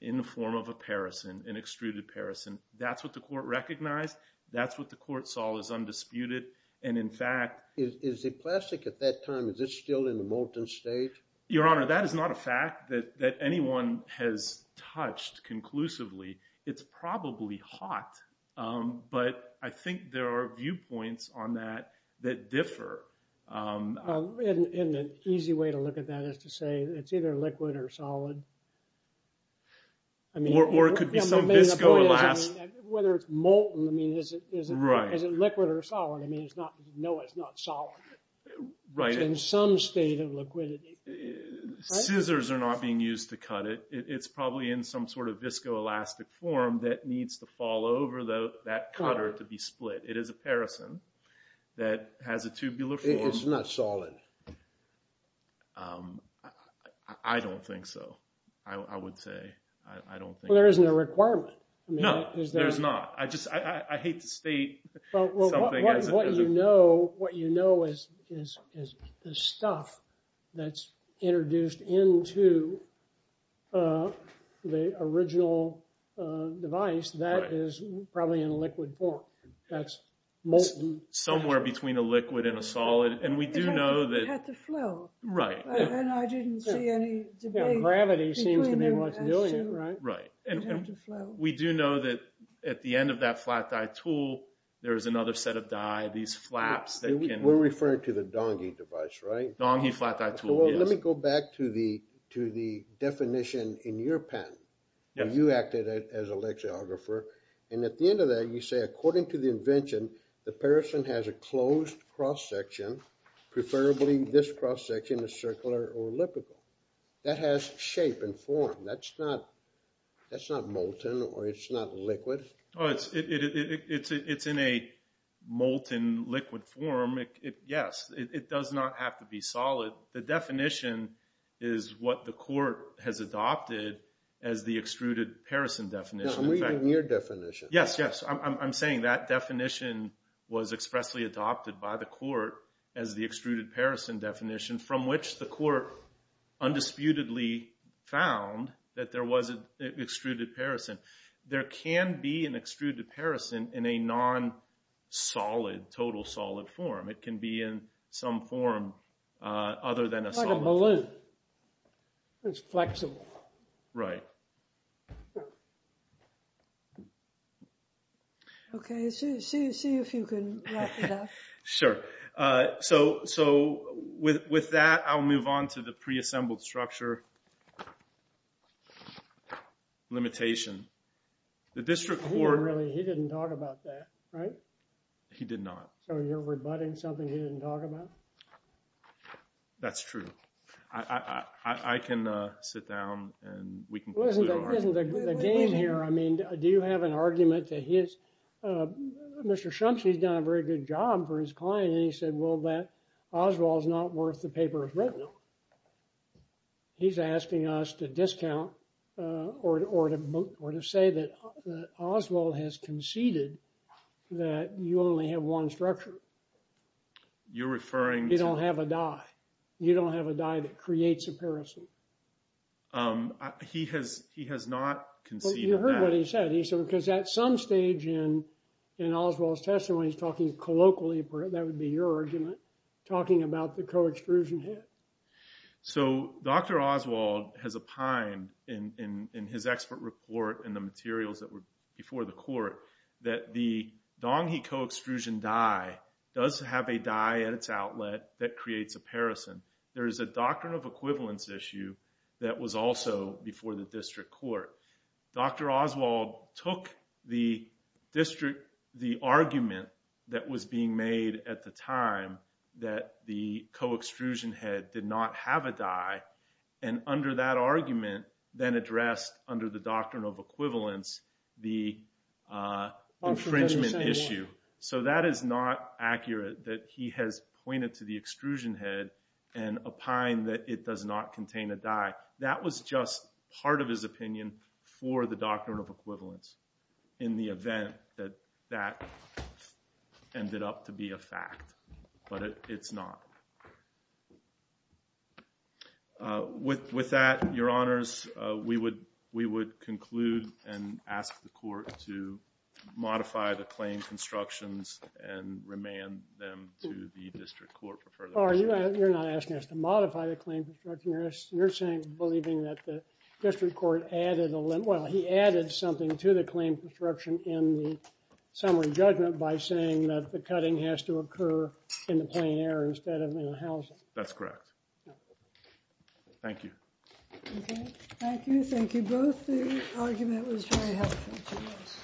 in the form of a Parison, an extruded Parison, that's what the court recognized, that's what the court saw as undisputed, and in fact. Is the plastic at that time, is it still in the molten state? Your Honor, that is not a fact that anyone has touched conclusively. It's probably hot, but I think there are viewpoints on that that differ. In an easy way to look at that is to say that it's either liquid or solid. I mean. Or it could be some viscoelastic. Whether it's molten, I mean, is it liquid or solid? I mean, it's not, no, it's not solid. Right. It's in some state of liquidity. Scissors are not being used to cut it. It's probably in some sort of viscoelastic form that needs to fall over that cutter to be split. It is a Parison that has a tubular form. It's not solid. I don't think so, I would say. I don't think. Well, there isn't a requirement. No, there's not. I just, I hate to state something as a. What you know is the stuff that's introduced into the original device, that is probably in liquid form. That's molten. Somewhere between a liquid and a solid, and we do know that. It had to flow. Right. And I didn't see any debate. Gravity seems to be what's doing it, right? Right. It had to flow. We do know that at the end of that flat die tool, there is another set of die, these flaps that can. We're referring to the Donghi device, right? Donghi flat die tool, yes. So let me go back to the definition in your patent. You acted as a lexiographer, and at the end of that you say, according to the invention, the Parison has a closed cross section, preferably this cross section is circular or elliptical. That has shape and form. That's not molten, or it's not liquid. Oh, it's in a molten liquid form. Yes, it does not have to be solid. The definition is what the court has adopted as the extruded Parison definition. I'm reading your definition. Yes, yes. I'm saying that definition was expressly adopted by the court as the extruded Parison definition, from which the court undisputedly found that there was an extruded Parison. There can be an extruded Parison in a non-solid, total solid form. It can be in some form other than a solid form. Like a balloon. It's flexible. Right. Okay, see if you can wrap it up. Sure. So with that, I'll move on to the pre-assembled structure limitation. The district court- He didn't talk about that, right? He did not. So you're rebutting something he didn't talk about? That's true. I can sit down, and we can conclude our argument. Isn't the game here? I mean, do you have an argument that he is, Mr. Shumsey's done a very good job for his client, and he said, well, that Oswald's not worth the paper it's written on. He's asking us to discount, or to say that Oswald has conceded that you only have one structure. You're referring to- You don't have a die. You don't have a die that creates a Parison. He has not conceded that. Well, you heard what he said. He said, because at some stage in Oswald's testimony, he's talking colloquially, that would be your argument, talking about the co-extrusion hit. So Dr. Oswald has opined in his expert report in the materials that were before the court that the Dong-He co-extrusion die does have a die at its outlet that creates a Parison. There is a doctrine of equivalence issue that was also before the district court. Dr. Oswald took the argument that was being made at the time that the co-extrusion head did not have a die. And under that argument, then addressed under the doctrine of equivalence, the infringement issue. So that is not accurate that he has pointed to the extrusion head and opined that it does not contain a die. That was just part of his opinion for the doctrine of equivalence in the event that that ended up to be a fact. But it's not. With that, your honors, we would conclude and ask the court to modify the claim constructions and remand them to the district court for further discussion. You're not asking us to modify the claim construction. You're saying, believing that the district court added, well, he added something to the claim construction in the summary judgment by saying that the cutting has to occur in the plain air instead of in the housing. That's correct. Thank you. Thank you. Thank you both. The argument was very helpful to us.